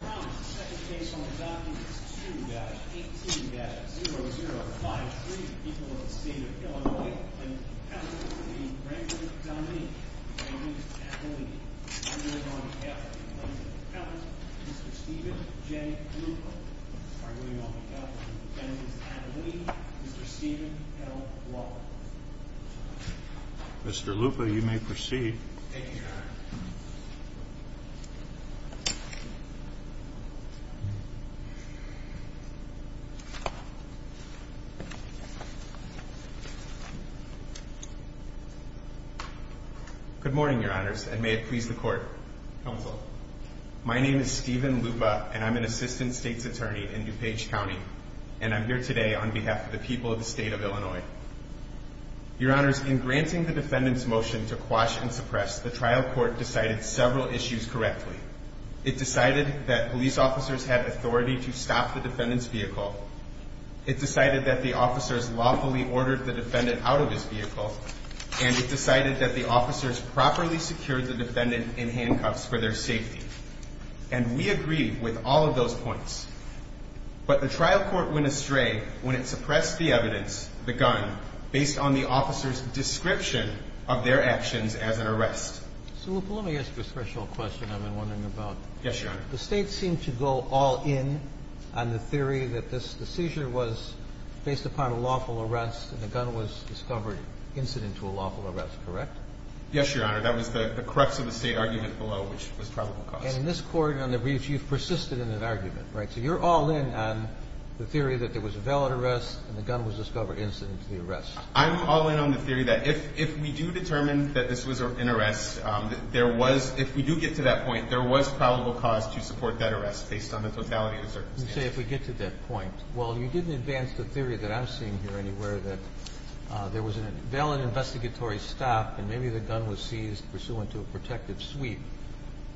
The second case on the document is 2-18-0053, people of the state of Illinois, and the plaintiff's name is Grambling D'Amini, defendants at the lead. I'm here on behalf of the plaintiff's appellant, Mr. Steven J. Lupa. I'm here on behalf of the defendants at the lead, Mr. Steven L. Walker. Mr. Lupa, you may proceed. Thank you, Your Honor. Good morning, Your Honors, and may it please the Court. Counsel. My name is Steven Lupa, and I'm an assistant state's attorney in DuPage County, and I'm here today on behalf of the people of the state of Illinois. Your Honors, in granting the defendant's motion to quash and suppress, the trial court decided several issues correctly. It decided that police officers had authority to stop the defendant's vehicle. It decided that the officers lawfully ordered the defendant out of his vehicle. And it decided that the officers properly secured the defendant in handcuffs for their safety. And we agree with all of those points. But the trial court went astray when it suppressed the evidence, the gun, based on the officers' description of their actions as an arrest. So, Lupa, let me ask you a special question I've been wondering about. Yes, Your Honor. The state seemed to go all in on the theory that the seizure was based upon a lawful arrest and the gun was discovered incident to a lawful arrest, correct? Yes, Your Honor. That was the crux of the state argument below, which was probable cause. And in this court, on the briefs, you've persisted in that argument, right? So you're all in on the theory that there was a valid arrest and the gun was discovered incident to the arrest. I'm all in on the theory that if we do determine that this was an arrest, there was, if we do get to that point, there was probable cause to support that arrest based on the totality of the circumstances. You say if we get to that point. Well, you didn't advance the theory that I'm seeing here anywhere that there was a valid investigatory stop and maybe the gun was seized pursuant to a protective sweep.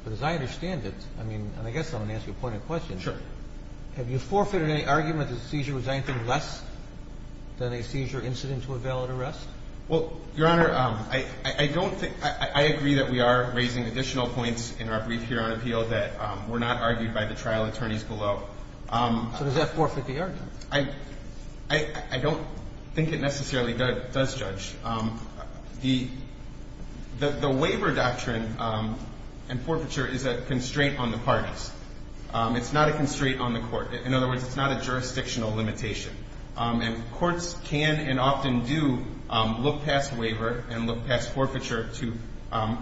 But as I understand it, I mean, and I guess I'm going to ask you a pointed question. Sure. Have you forfeited any argument that the seizure was anything less than a seizure incident to a valid arrest? Well, Your Honor, I don't think – I agree that we are raising additional points in our brief here on appeal that were not argued by the trial attorneys below. So does that forfeit the argument? I don't think it necessarily does judge. The waiver doctrine and forfeiture is a constraint on the parties. It's not a constraint on the court. In other words, it's not a jurisdictional limitation. And courts can and often do look past waiver and look past forfeiture to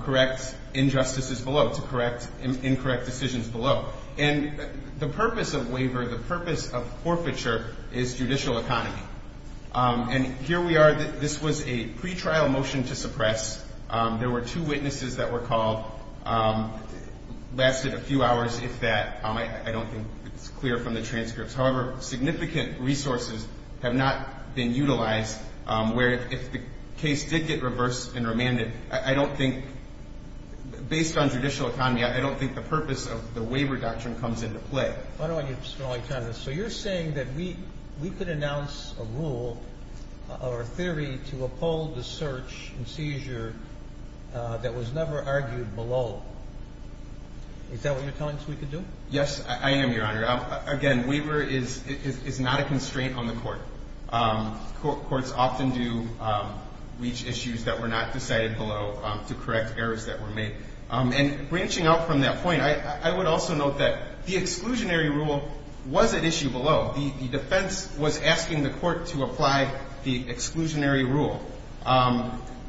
correct injustices below, to correct incorrect decisions below. And the purpose of waiver, the purpose of forfeiture is judicial economy. And here we are. This was a pretrial motion to suppress. There were two witnesses that were called. It lasted a few hours, if that. I don't think it's clear from the transcripts. However, significant resources have not been utilized where if the case did get reversed and remanded, I don't think – based on judicial economy, I don't think the purpose of the waiver doctrine comes into play. I don't want you to spend all your time on this. So you're saying that we could announce a rule or a theory to uphold the search and seizure that was never argued below. Is that what you're telling us we could do? Yes, I am, Your Honor. Again, waiver is not a constraint on the court. Courts often do reach issues that were not decided below to correct errors that were made. And branching out from that point, I would also note that the exclusionary rule was at issue below. The defense was asking the court to apply the exclusionary rule.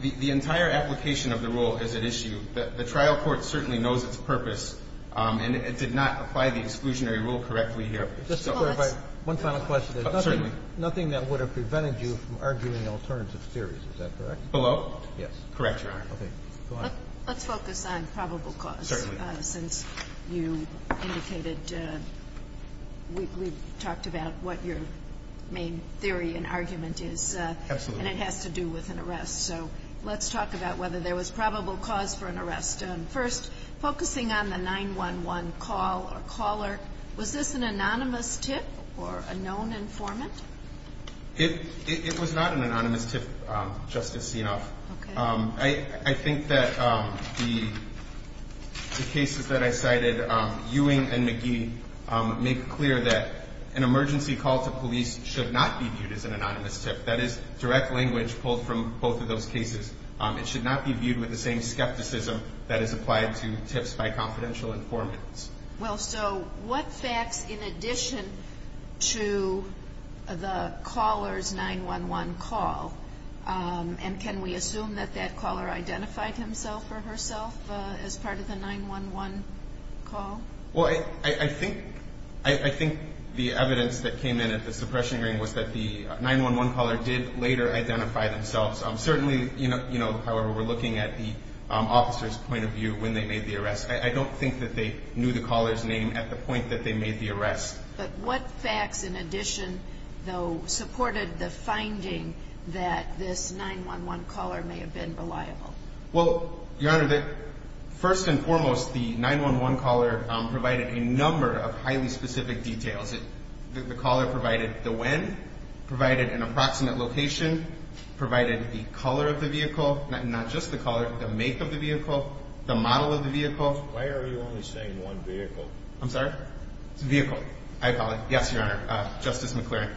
The entire application of the rule is at issue. The trial court certainly knows its purpose, and it did not apply the exclusionary rule correctly here. Just to clarify, one final question. Certainly. There's nothing that would have prevented you from arguing alternative theories. Is that correct? Yes. Correct, Your Honor. Let's focus on probable cause. Certainly. Since you indicated we've talked about what your main theory and argument is. Absolutely. And it has to do with an arrest. So let's talk about whether there was probable cause for an arrest. First, focusing on the 911 call or caller, was this an anonymous tip or a known informant? It was not an anonymous tip, Justice Sienoff. Okay. I think that the cases that I cited, Ewing and McGee, make clear that an emergency call to police should not be viewed as an anonymous tip. That is direct language pulled from both of those cases. It should not be viewed with the same skepticism that is applied to tips by confidential informants. Well, so what facts in addition to the caller's 911 call? And can we assume that that caller identified himself or herself as part of the 911 call? Well, I think the evidence that came in at the suppression hearing was that the 911 caller did later identify themselves. Certainly, however, we're looking at the officer's point of view when they made the arrest. I don't think that they knew the caller's name at the point that they made the arrest. But what facts in addition, though, supported the finding that this 911 caller may have been reliable? Well, Your Honor, first and foremost, the 911 caller provided a number of highly specific details. The caller provided the when, provided an approximate location, provided the color of the vehicle. Not just the color, the make of the vehicle, the model of the vehicle. Why are you only saying one vehicle? I'm sorry? It's a vehicle, I call it. Yes, Your Honor. Justice McClaren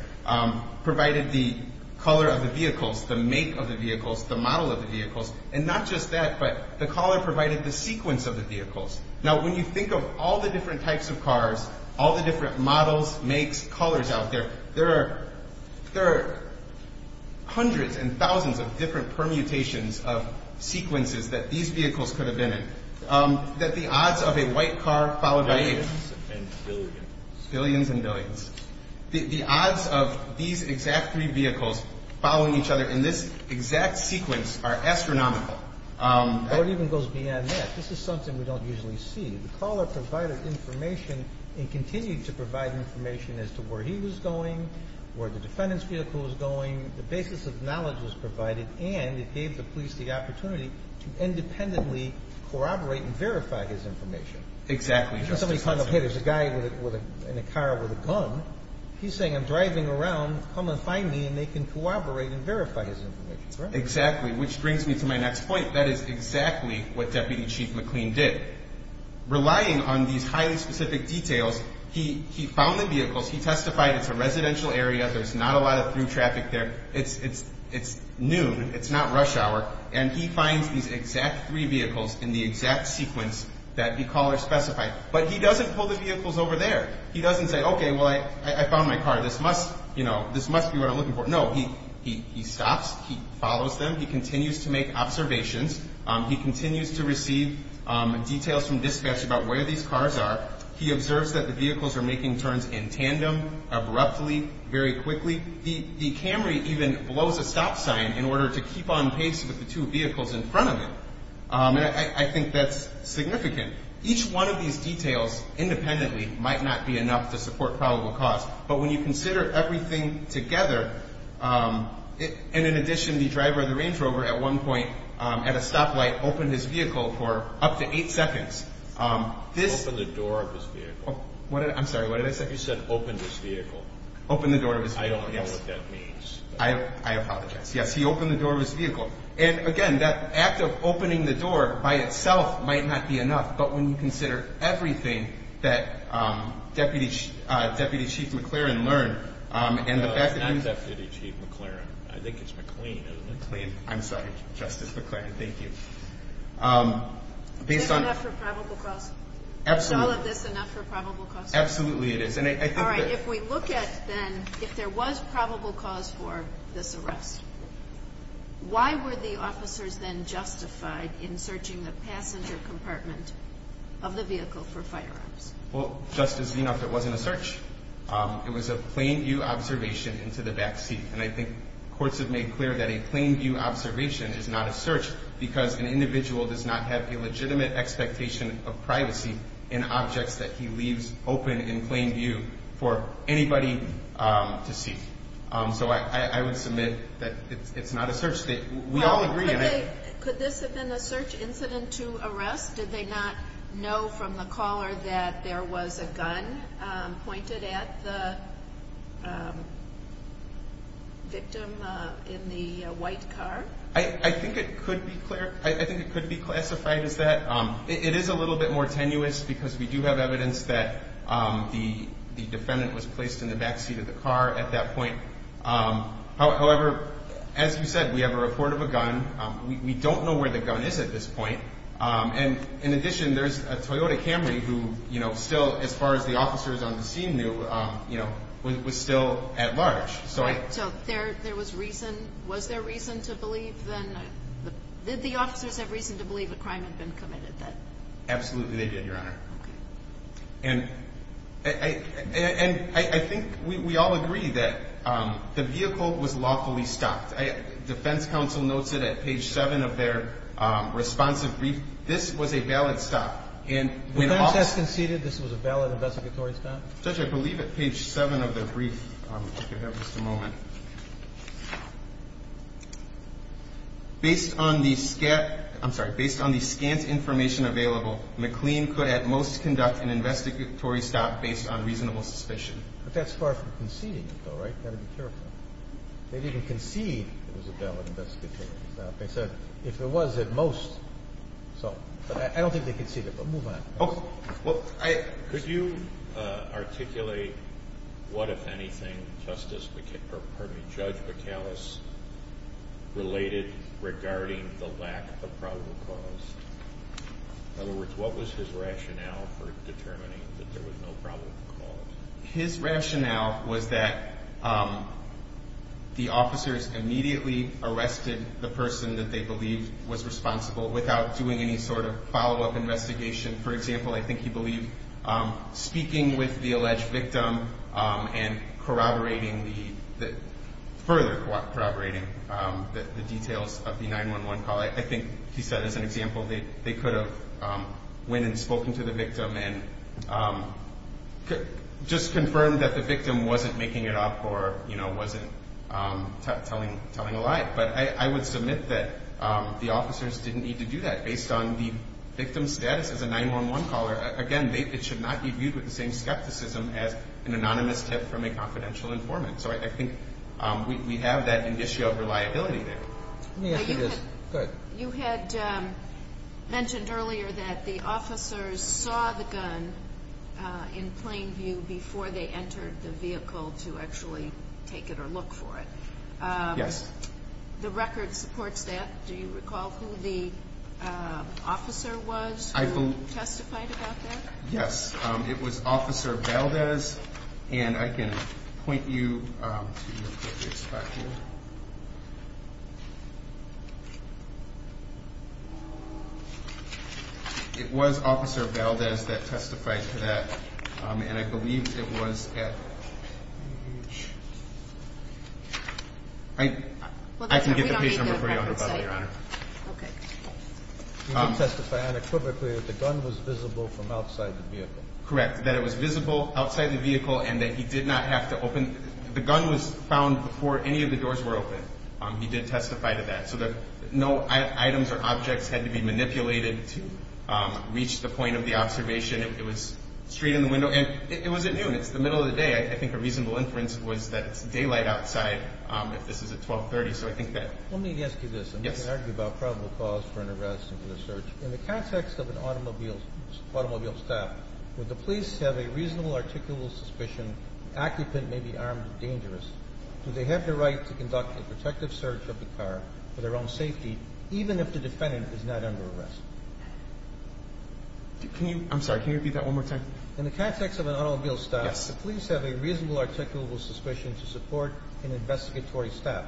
provided the color of the vehicles, the make of the vehicles, the model of the vehicles. And not just that, but the caller provided the sequence of the vehicles. Now, when you think of all the different types of cars, all the different models, makes, colors out there, there are hundreds and thousands of different permutations of sequences that these vehicles could have been in. That the odds of a white car followed by a… Billions and billions. Billions and billions. The odds of these exact three vehicles following each other in this exact sequence are astronomical. It even goes beyond that. This is something we don't usually see. The caller provided information and continued to provide information as to where he was going, where the defendant's vehicle was going, the basis of knowledge was provided, and it gave the police the opportunity to independently corroborate and verify his information. Exactly, Justice. Somebody comes up, hey, there's a guy in a car with a gun. He's saying, I'm driving around, come and find me, and they can corroborate and verify his information. Exactly, which brings me to my next point. That is exactly what Deputy Chief McLean did. Relying on these highly specific details, he found the vehicles, he testified it's a residential area, there's not a lot of through traffic there, it's noon, it's not rush hour, and he finds these exact three vehicles in the exact sequence that the caller specified. But he doesn't pull the vehicles over there. He doesn't say, okay, well, I found my car, this must be what I'm looking for. No, he stops, he follows them, he continues to make observations, he continues to receive details from dispatch about where these cars are, he observes that the vehicles are making turns in tandem, abruptly, very quickly. The Camry even blows a stop sign in order to keep on pace with the two vehicles in front of it. I think that's significant. Each one of these details independently might not be enough to support probable cause, but when you consider everything together, and in addition, the driver of the Range Rover at one point, at a stoplight, opened his vehicle for up to eight seconds. Opened the door of his vehicle. I'm sorry, what did I say? You said opened his vehicle. Opened the door of his vehicle, yes. I don't know what that means. I apologize. Yes, he opened the door of his vehicle. And again, that act of opening the door by itself might not be enough, but when you consider everything that Deputy Chief McLaren learned, and the fact that he I'm Deputy Chief McLaren. I think it's McLean. I'm sorry. Justice McLaren, thank you. Is this enough for probable cause? Absolutely. Is all of this enough for probable cause? Absolutely it is. All right. If we look at, then, if there was probable cause for this arrest, why were the officers then justified in searching the passenger compartment of the vehicle for firearms? Well, Justice Vinoff, it wasn't a search. It was a plain view observation into the back seat. And I think courts have made clear that a plain view observation is not a search because an individual does not have a legitimate expectation of privacy in objects that he leaves open in plain view for anybody to see. So I would submit that it's not a search. We all agree on that. Could this have been a search incident to arrest? Did they not know from the caller that there was a gun pointed at the victim in the white car? I think it could be classified as that. It is a little bit more tenuous because we do have evidence that the defendant was placed in the back seat of the car at that point. However, as you said, we have a report of a gun. We don't know where the gun is at this point. And in addition, there's a Toyota Camry who still, as far as the officers on the scene knew, was still at large. So was there reason to believe then? Did the officers have reason to believe a crime had been committed? Absolutely they did, Your Honor. Okay. And I think we all agree that the vehicle was lawfully stopped. Defense counsel notes it at page 7 of their responsive brief. This was a valid stop. The defense has conceded this was a valid investigatory stop? Judge, I believe at page 7 of their brief. If I could have just a moment. Based on the scant information available, McLean could at most conduct an investigatory stop based on reasonable suspicion. But that's far from conceding it, though, right? You've got to be careful. They didn't concede it was a valid investigatory stop. They said if it was at most. But I don't think they conceded it. But move on. Could you articulate what, if anything, Judge McAllis related regarding the lack of probable cause? In other words, what was his rationale for determining that there was no probable cause? His rationale was that the officers immediately arrested the person that they believed was responsible without doing any sort of follow-up investigation. For example, I think he believed speaking with the alleged victim and corroborating the further corroborating the details of the 911 call. I think he said, as an example, they could have went and spoken to the victim and just confirmed that the victim wasn't making it up or wasn't telling a lie. But I would submit that the officers didn't need to do that based on the victim's status as a 911 caller. Again, it should not be viewed with the same skepticism as an anonymous tip from a confidential informant. So I think we have that issue of reliability there. Let me ask you this. Go ahead. You had mentioned earlier that the officers saw the gun in plain view before they entered the vehicle to actually take it or look for it. Yes. The record supports that. Do you recall who the officer was who testified about that? Yes. It was Officer Valdez. And I can point you to the appropriate spot here. It was Officer Valdez that testified to that. And I believe it was at page – I can get the page number for you on the bottle, Your Honor. Okay. You can testify unequivocally that the gun was visible from outside the vehicle. Correct. That it was visible outside the vehicle and that he did not have to open – the gun was found before any of the doors were open. He did testify to that. So that no items or objects had to be manipulated to reach the point of the observation. It was straight in the window. And it was at noon. It's the middle of the day. I think a reasonable inference was that it's daylight outside if this is at 1230. So I think that – Let me ask you this. Yes. And we can argue about probable cause for an arrest and for the search. In the context of an automobile stop, would the police have a reasonable articulable suspicion the occupant may be armed and dangerous? Do they have the right to conduct a protective search of the car for their own safety, even if the defendant is not under arrest? Can you – I'm sorry. Can you repeat that one more time? In the context of an automobile stop, the police have a reasonable articulable suspicion to support an investigatory stop.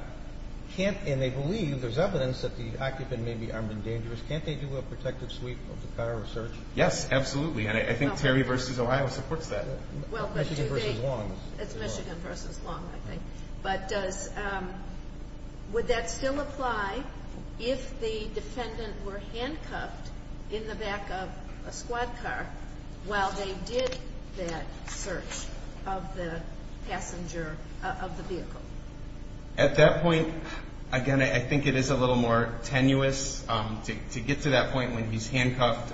Can't – and they believe there's evidence that the occupant may be armed and dangerous. Can't they do a protective sweep of the car or search? Yes, absolutely. And I think Terry v. Ohio supports that. Well, but do they – Michigan v. Long. It's Michigan v. Long, I think. But does – would that still apply if the defendant were handcuffed in the back of a squad car while they did that search of the passenger – of the vehicle? At that point, again, I think it is a little more tenuous to get to that point when he's handcuffed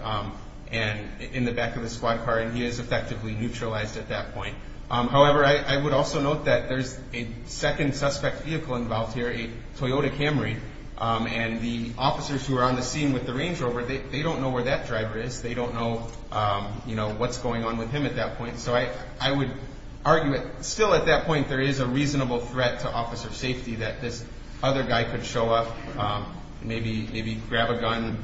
and in the back of a squad car and he is effectively neutralized at that point. However, I would also note that there's a second suspect vehicle involved here, a Toyota Camry, and the officers who are on the scene with the Range Rover, they don't know where that driver is. They don't know what's going on with him at that point. So I would argue that still at that point there is a reasonable threat to officer safety that this other guy could show up, maybe grab a gun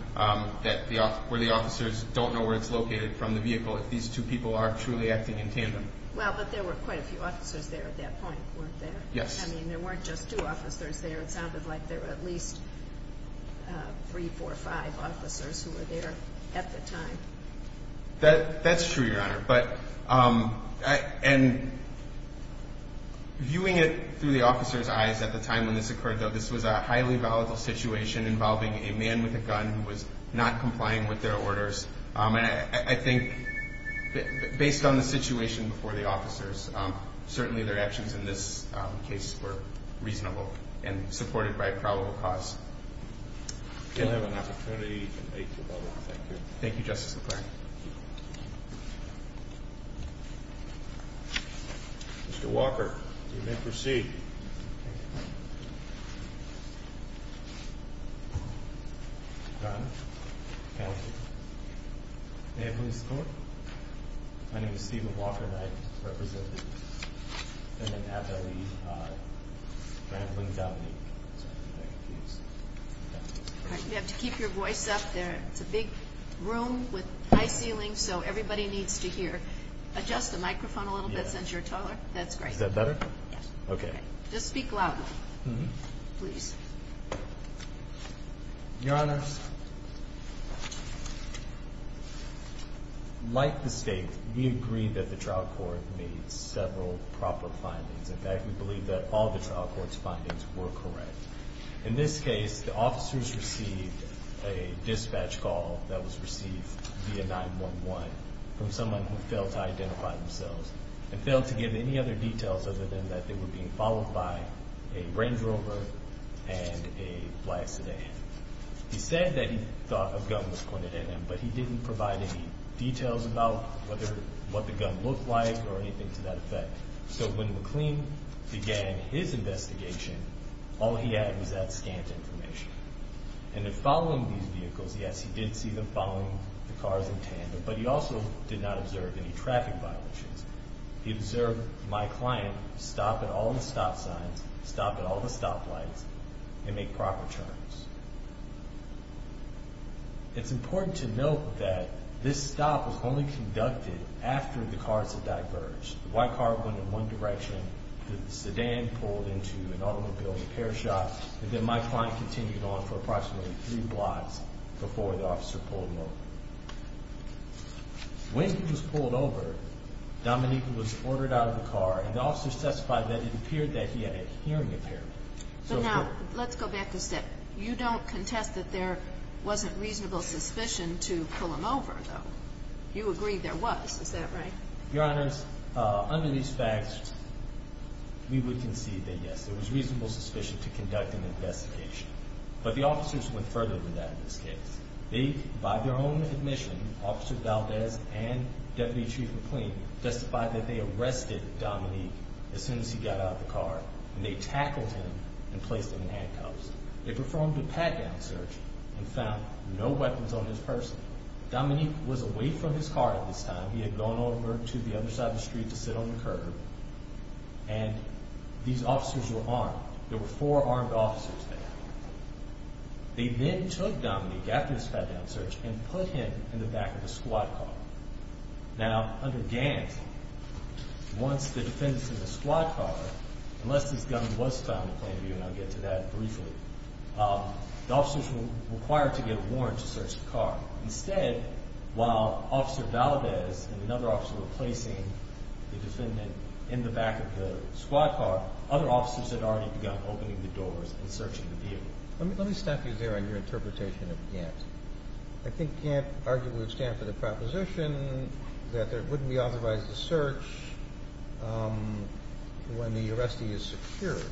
where the officers don't know where it's located from the vehicle if these two people are truly acting in tandem. Well, but there were quite a few officers there at that point, weren't there? Yes. I mean, there weren't just two officers there. It sounded like there were at least three, four, five officers who were there at the time. That's true, Your Honor. And viewing it through the officers' eyes at the time when this occurred, though, this was a highly volatile situation involving a man with a gun who was not complying with their orders. And I think based on the situation before the officers, certainly their actions in this case were reasonable and supported by a probable cause. We'll have an opportunity to take your vote on that. Thank you. Thank you, Justice McClaren. Mr. Walker, you may proceed. Your Honor, counsel, may I please go on? My name is Stephen Walker, and I represent the defendant, Abelie Brambling-Downey. You have to keep your voice up there. It's a big room with high ceilings, so everybody needs to hear. Adjust the microphone a little bit since you're taller. That's great. Is that better? Yes. Okay. Just speak louder, please. Your Honor, like the State, we agree that the trial court made several proper findings. In fact, we believe that all the trial court's findings were correct. In this case, the officers received a dispatch call that was received via 911 from someone who failed to identify themselves and failed to give any other details other than that they were being followed by a Range Rover and a black sedan. He said that he thought a gun was pointed at him, but he didn't provide any details about what the gun looked like or anything to that effect. So when McLean began his investigation, all he had was that scant information. And in following these vehicles, yes, he did see them following the cars in tandem, but he also did not observe any traffic violations. He observed my client stop at all the stop signs, stop at all the stop lights, and make proper turns. It's important to note that this stop was only conducted after the cars had diverged. The white car went in one direction, the sedan pulled into an automobile repair shop, and then my client continued on for approximately three blocks before the officer pulled him over. When he was pulled over, Dominique was ordered out of the car, and the officer testified that it appeared that he had a hearing impairment. But now, let's go back a step. You don't contest that there wasn't reasonable suspicion to pull him over, though. You agree there was, is that right? Your Honors, under these facts, we would concede that, yes, there was reasonable suspicion to conduct an investigation. But the officers went further than that in this case. They, by their own admission, Officer Valdez and Deputy Chief McLean, testified that they arrested Dominique as soon as he got out of the car, and they tackled him and placed him in handcuffs. They performed a pat-down search and found no weapons on his person. Dominique was away from his car at this time. He had gone over to the other side of the street to sit on the curb, and these officers were armed. There were four armed officers there. They then took Dominique, after this pat-down search, and put him in the back of a squad car. Now, under Gant, once the defendants in the squad car, unless his gun was found in plain view, and I'll get to that briefly, the officers were required to get a warrant to search the car. Instead, while Officer Valdez and another officer were placing the defendant in the back of the squad car, other officers had already begun opening the doors and searching the vehicle. Let me stop you there on your interpretation of Gant. I think Gant arguably would stand for the proposition that there wouldn't be authorized to search when the arrestee is secured.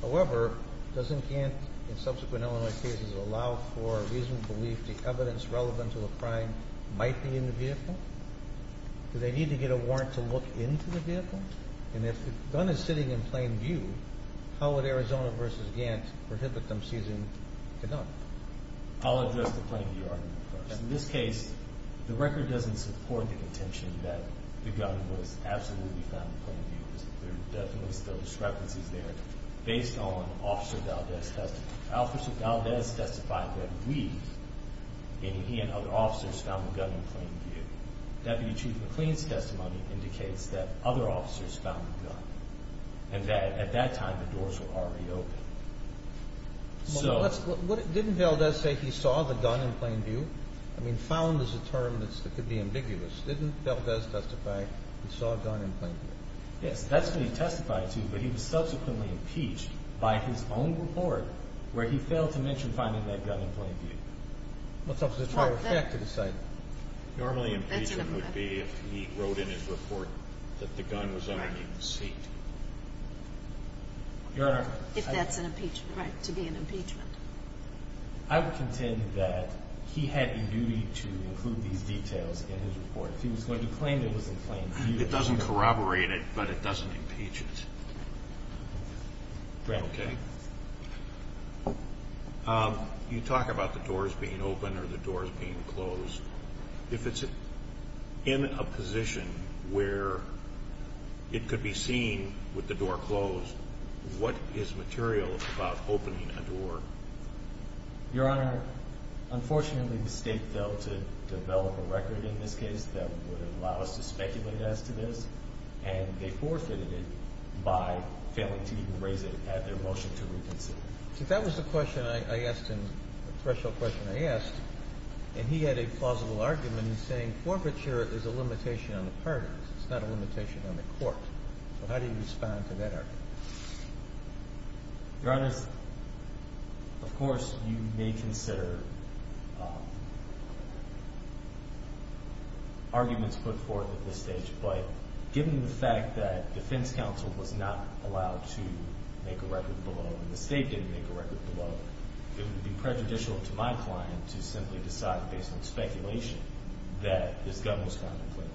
However, doesn't Gant, in subsequent Illinois cases, allow for reasonable belief the evidence relevant to the crime might be in the vehicle? Do they need to get a warrant to look into the vehicle? And if the gun is sitting in plain view, how would Arizona v. Gant prohibit them seizing the gun? I'll address the plain view argument first. In this case, the record doesn't support the contention that the gun was absolutely found in plain view. There are definitely still discrepancies there based on Officer Valdez's testimony. Officer Valdez testified that he and other officers found the gun in plain view. Deputy Chief McLean's testimony indicates that other officers found the gun. And at that time, the doors were already open. Didn't Valdez say he saw the gun in plain view? I mean, found is a term that could be ambiguous. Didn't Valdez testify he saw a gun in plain view? Yes. That's what he testified to, but he was subsequently impeached by his own report where he failed to mention finding that gun in plain view. What's Officer Trevor Fett to decide? Normally impeachment would be if he wrote in his report that the gun was underneath the seat. Your Honor. If that's an impeachment. Right, to be an impeachment. I would contend that he had a duty to include these details in his report. If he was going to claim it was in plain view. It doesn't corroborate it, but it doesn't impeach it. Okay. You talk about the doors being open or the doors being closed. If it's in a position where it could be seen with the door closed, what is material about opening a door? Your Honor, unfortunately the state failed to develop a record in this case that would allow us to speculate as to this, and they forfeited it by failing to even raise it at their motion to reconsider. That was the question I asked him, the threshold question I asked, and he had a plausible argument in saying forfeiture is a limitation on the parties. It's not a limitation on the court. How do you respond to that argument? Your Honor, of course you may consider arguments put forth at this stage, but given the fact that defense counsel was not allowed to make a record below and the state didn't make a record below, it would be prejudicial to my client to simply decide based on speculation that this gun was found in plain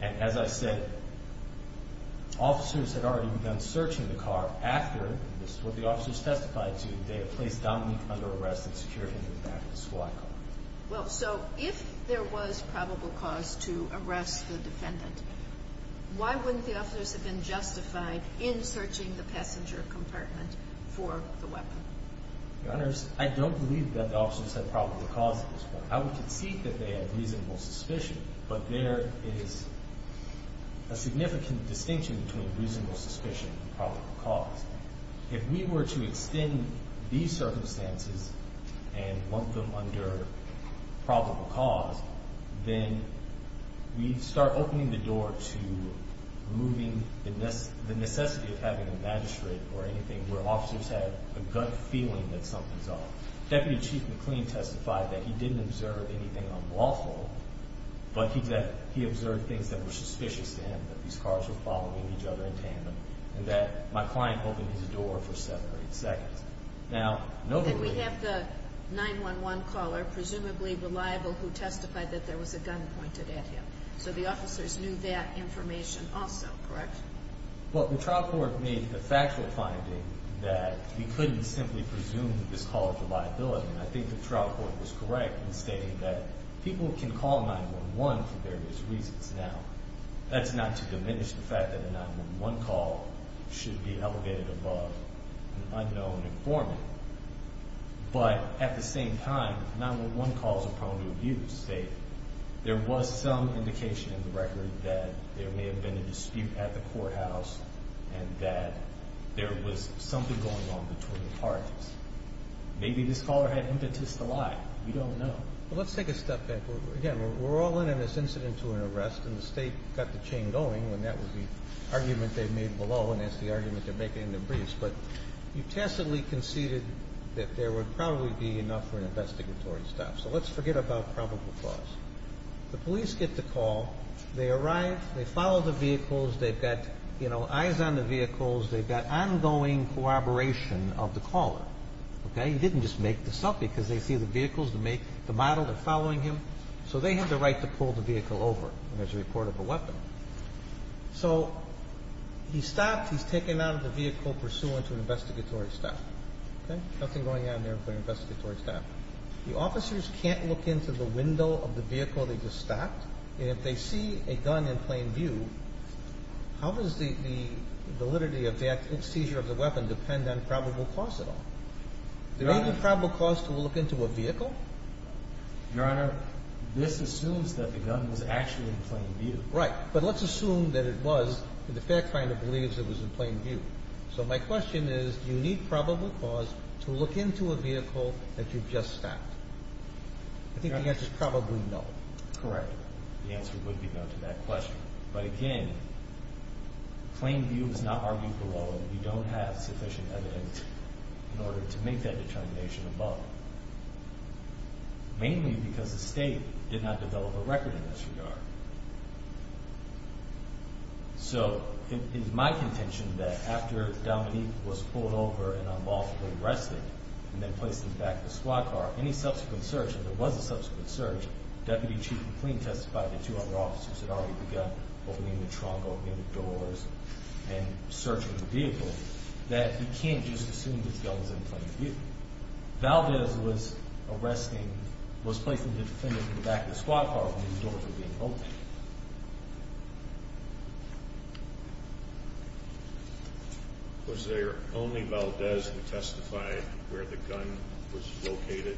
view. And as I said, officers had already begun searching the car after, this is what the officers testified to, they had placed Dominique under arrest and secured him in the back of a squad car. Well, so if there was probable cause to arrest the defendant, why wouldn't the officers have been justified in searching the passenger compartment for the weapon? Your Honor, I don't believe that the officers had probable cause at this point. I would concede that they had reasonable suspicion, but there is a significant distinction between reasonable suspicion and probable cause. If we were to extend these circumstances and want them under probable cause, then we'd start opening the door to removing the necessity of having a magistrate or anything where officers had a gut feeling that something's off. Deputy Chief McLean testified that he didn't observe anything unlawful, but he observed things that were suspicious to him, that these cars were following each other in tandem, and that my client opened his door for seven or eight seconds. And we have the 911 caller, presumably reliable, who testified that there was a gun pointed at him. So the officers knew that information also, correct? Well, the trial court made the factual finding that we couldn't simply presume that this call was a liability, and I think the trial court was correct in stating that people can call 911 for various reasons. Now, that's not to diminish the fact that a 911 call should be elevated above an unknown informant. But at the same time, 911 calls are prone to abuse. There was some indication in the record that there may have been a dispute at the courthouse and that there was something going on between the parties. Maybe this caller had impetus to lie. We don't know. Well, let's take a step back. Again, we're all in on this incident to an arrest, and the State got the chain going, and that was the argument they made below, and that's the argument they're making in the briefs. But you tacitly conceded that there would probably be enough for an investigatory stop. So let's forget about probable cause. The police get the call. They arrive. They follow the vehicles. They've got, you know, eyes on the vehicles. They've got ongoing corroboration of the caller, okay? He didn't just make this up because they see the vehicles, the model, they're following him. So they have the right to pull the vehicle over when there's a report of a weapon. So he stopped. He's taken out of the vehicle pursuant to an investigatory stop, okay? Nothing going on there but an investigatory stop. The officers can't look into the window of the vehicle they just stopped, and if they see a gun in plain view, how does the validity of the seizure of the weapon depend on probable cause at all? Do they need probable cause to look into a vehicle? Your Honor, this assumes that the gun was actually in plain view. Right. But let's assume that it was and the fact finder believes it was in plain view. So my question is do you need probable cause to look into a vehicle that you've just stopped? I think the answer is probably no. Correct. The answer would be no to that question. But, again, plain view is not argued for law. We don't have sufficient evidence in order to make that determination above. Mainly because the state did not develop a record in this regard. So it is my contention that after Dominique was pulled over and unlawfully arrested and then placed in the back of the squad car, any subsequent search, if there was a subsequent search, Deputy Chief McLean testified that two other officers had already begun opening the trunk opening the doors and searching the vehicle, that he can't just assume this gun was in plain view. Valdez was placing the defendant in the back of the squad car when the doors were being opened. Was there only Valdez who testified where the gun was located?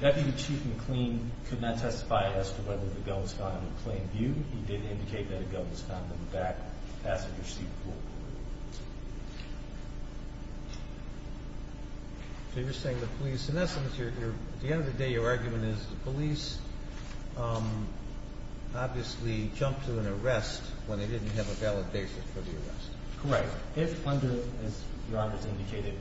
Deputy Chief McLean could not testify as to whether the gun was found in plain view. He did indicate that a gun was found in the back passenger seat pool. So you're saying the police, in essence, at the end of the day, your argument is the police obviously jumped to an arrest when they didn't have a valid basis for the arrest. Correct. If under, as Your Honor has indicated,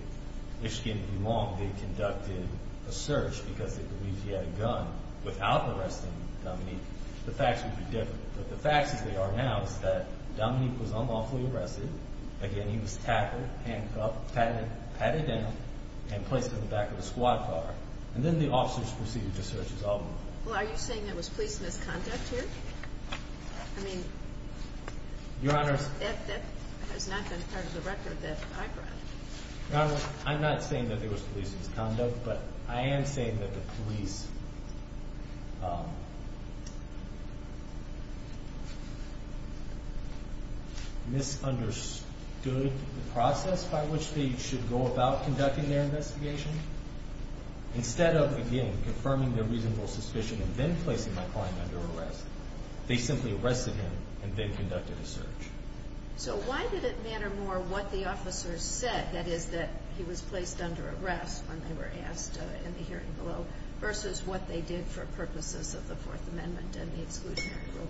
Michigan v. Long, they conducted a search because they believed he had a gun without arresting Dominique, the facts would be different. But the facts as they are now is that Dominique was unlawfully arrested. Again, he was tackled, handcuffed, patted down and placed in the back of the squad car. And then the officers proceeded to search his automobile. Well, are you saying it was police misconduct here? I mean, that has not been part of the record that I brought. Your Honor, I'm not saying that there was police misconduct, but I am saying that the police misunderstood the process by which they should go about conducting their investigation. Instead of, again, confirming their reasonable suspicion and then placing my client under arrest, they simply arrested him and then conducted a search. So why did it matter more what the officers said, that is that he was placed under arrest when they were asked in the hearing below, versus what they did for purposes of the Fourth Amendment and the exclusionary rule?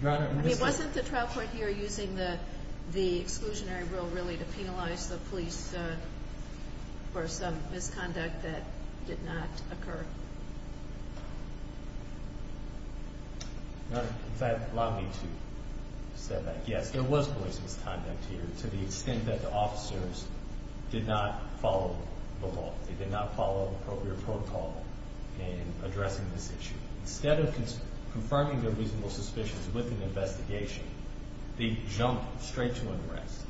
Your Honor, in this case… I mean, wasn't the trial court here using the exclusionary rule really to penalize the police for some misconduct that did not occur? Your Honor, does that allow me to say that? Yes, there was police misconduct here to the extent that the officers did not follow the law. They did not follow appropriate protocol in addressing this issue. Instead of confirming their reasonable suspicions with an investigation, they jumped straight to arrest.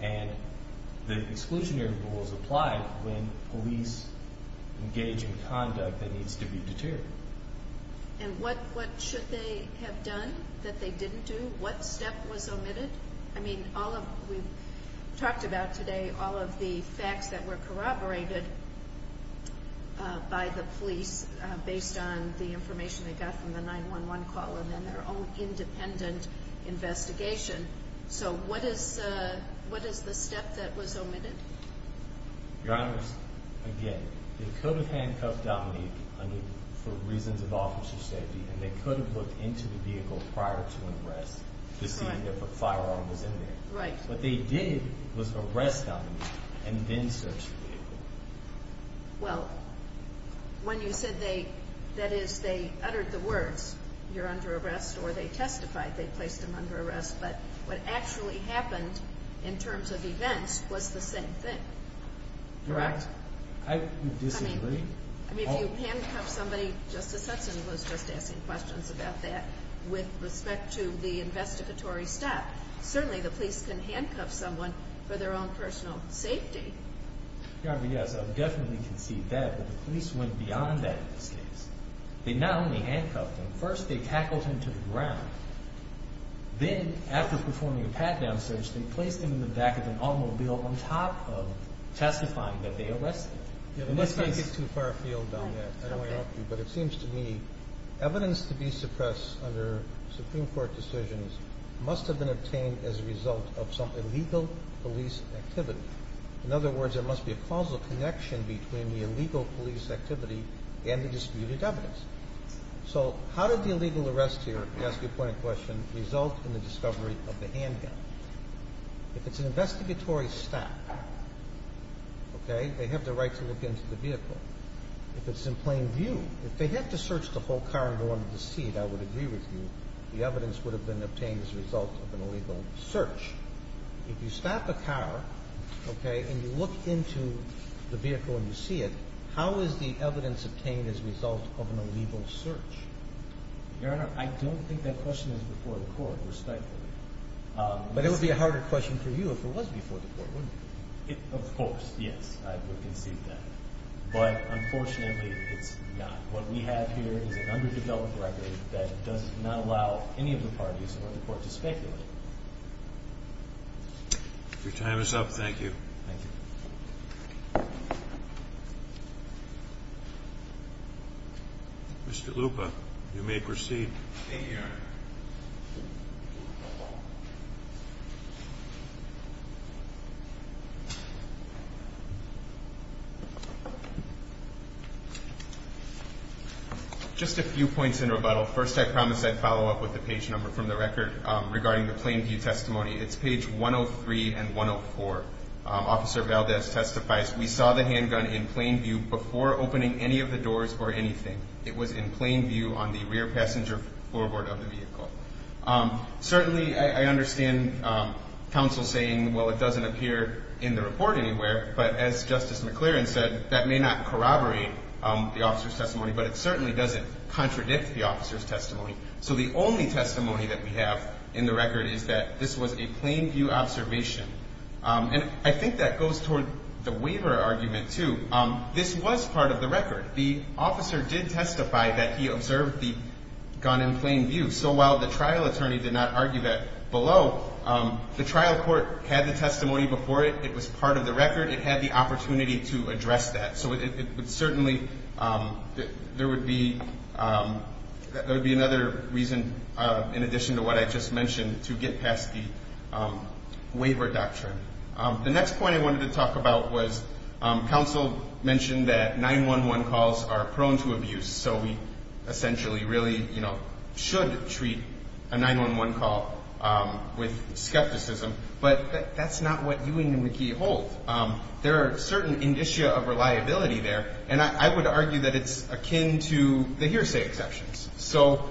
And the exclusionary rules apply when police engage in conduct that needs to be deterred. And what should they have done that they didn't do? What step was omitted? I mean, we've talked about today all of the facts that were corroborated by the police based on the information they got from the 911 call and then their own independent investigation. So what is the step that was omitted? Your Honor, again, they could have handcuffed Dominique for reasons of officer safety, and they could have looked into the vehicle prior to arrest to see if a firearm was in there. Right. What they did was arrest Dominique and then search the vehicle. Well, when you said they – that is, they uttered the words, you're under arrest, or they testified they placed him under arrest, but what actually happened in terms of events was the same thing. Correct? I disagree. I mean, if you handcuff somebody, Justice Hudson was just asking questions about that with respect to the investigatory step. Certainly the police can handcuff someone for their own personal safety. Your Honor, yes, I would definitely concede that. But the police went beyond that in this case. They not only handcuffed him. First, they tackled him to the ground. Then, after performing a pat-down search, they placed him in the back of an automobile on top of testifying that they arrested him. Let's not get too far afield on that. I don't want to interrupt you. But it seems to me evidence to be suppressed under Supreme Court decisions must have been obtained as a result of some illegal police activity. In other words, there must be a causal connection between the illegal police activity and the disputed evidence. So how did the illegal arrest here, to ask you a pointed question, result in the discovery of the handgun? If it's an investigatory step, okay, they have the right to look into the vehicle. If it's in plain view, if they had to search the whole car and go under the seat, I would agree with you, the evidence would have been obtained as a result of an illegal search. If you stop a car, okay, and you look into the vehicle and you see it, how is the evidence obtained as a result of an illegal search? Your Honor, I don't think that question is before the court, respectfully. But it would be a harder question for you if it was before the court, wouldn't it? Of course, yes, I would concede that. But unfortunately, it's not. What we have here is an underdeveloped record that does not allow any of the parties or the court to speculate. Your time is up. Thank you. Thank you. Thank you, Your Honor. Thank you. Just a few points in rebuttal. First, I promised I'd follow up with the page number from the record regarding the plain view testimony. It's page 103 and 104. Officer Valdez testifies, we saw the handgun in plain view before opening any of the doors or anything. It was in plain view on the rear passenger floorboard of the vehicle. Certainly, I understand counsel saying, well, it doesn't appear in the report anywhere. But as Justice McClaren said, that may not corroborate the officer's testimony, but it certainly doesn't contradict the officer's testimony. So the only testimony that we have in the record is that this was a plain view observation. And I think that goes toward the waiver argument, too. This was part of the record. The officer did testify that he observed the gun in plain view so while the trial attorney did not argue that below. The trial court had the testimony before it. It was part of the record. It had the opportunity to address that. So it would certainly be another reason, in addition to what I just mentioned, to get past the waiver doctrine. The next point I wanted to talk about was counsel mentioned that 911 calls are prone to abuse. So we essentially really should treat a 911 call with skepticism. But that's not what Ewing and McKee hold. There are certain indicia of reliability there. And I would argue that it's akin to the hearsay exceptions. So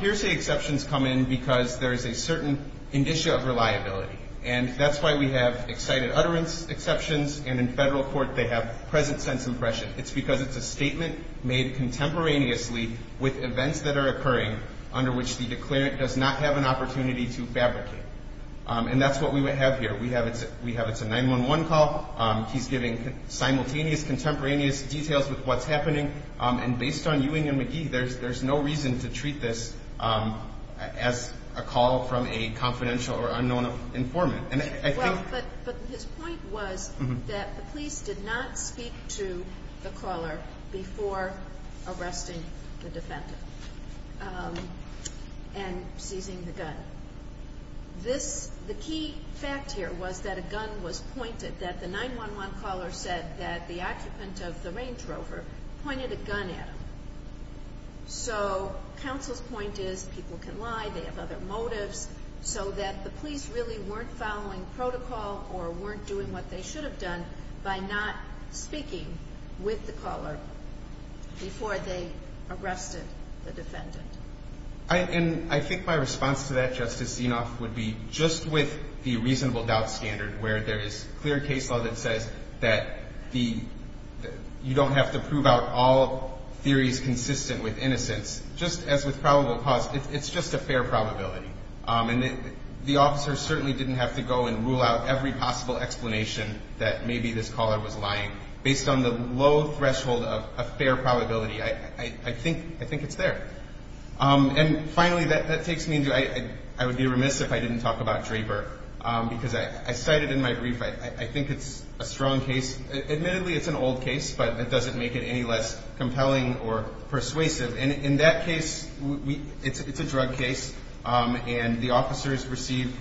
hearsay exceptions come in because there is a certain indicia of reliability. And that's why we have excited utterance exceptions, and in federal court they have present sense impression. It's because it's a statement made contemporaneously with events that are occurring under which the declarant does not have an opportunity to fabricate. And that's what we have here. We have it's a 911 call. He's giving simultaneous contemporaneous details with what's happening. And based on Ewing and McKee, there's no reason to treat this as a call from a confidential or unknown informant. But his point was that the police did not speak to the caller before arresting the defendant and seizing the gun. The key fact here was that a gun was pointed, that the 911 caller said that the occupant of the Range Rover pointed a gun at him. So counsel's point is people can lie. They have other motives. So that the police really weren't following protocol or weren't doing what they should have done by not speaking with the caller before they arrested the defendant. And I think my response to that, Justice Zinoff, would be just with the reasonable doubt standard where there is clear case law that says that you don't have to prove out all theories consistent with innocence. Just as with probable cause, it's just a fair probability. The officer certainly didn't have to go and rule out every possible explanation that maybe this caller was lying based on the low threshold of a fair probability. I think it's there. And finally, that takes me into, I would be remiss if I didn't talk about Draper because I cited in my brief, I think it's a strong case. Admittedly, it's an old case, but it doesn't make it any less compelling or persuasive. In that case, it's a drug case. And the officers receive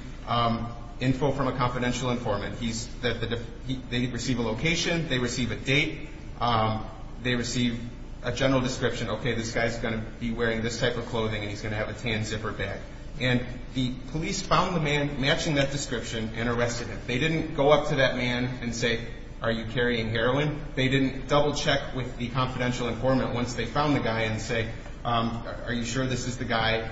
info from a confidential informant. They receive a location. They receive a date. They receive a general description. Okay, this guy's going to be wearing this type of clothing and he's going to have a tan zipper bag. And the police found the man matching that description and arrested him. They didn't go up to that man and say, Are you carrying heroin? They didn't double-check with the confidential informant once they found the guy and say, Are you sure this is the guy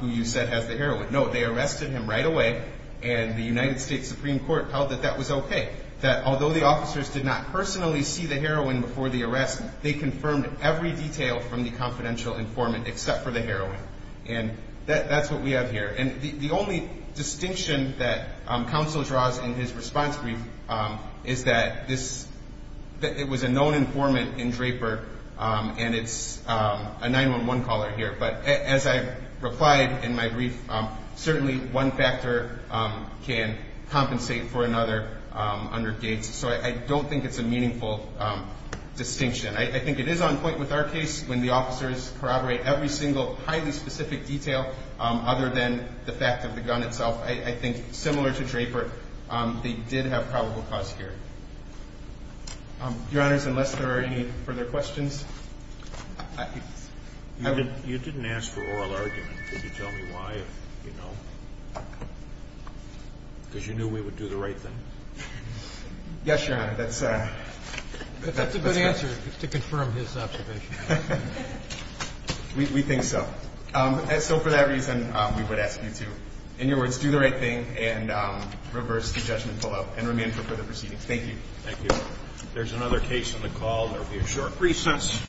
who you said has the heroin? No, they arrested him right away and the United States Supreme Court held that that was okay. That although the officers did not personally see the heroin before the arrest, they confirmed every detail from the confidential informant except for the heroin. And that's what we have here. And the only distinction that counsel draws in his response brief is that it was a known informant in Draper and it's a 911 caller here. But as I replied in my brief, certainly one factor can compensate for another under Gates. So I don't think it's a meaningful distinction. I think it is on point with our case when the officers corroborate every single highly specific detail other than the fact of the gun itself. I think similar to Draper, they did have probable cause here. Your Honors, unless there are any further questions. You didn't ask for oral argument. Could you tell me why? Because you knew we would do the right thing. Yes, Your Honor. That's a good answer to confirm his observation. We think so. So for that reason, we would ask you to, in your words, do the right thing and reverse the judgment pullout and remain for further proceedings. Thank you. Thank you. There's another case on the call. There will be a short recess.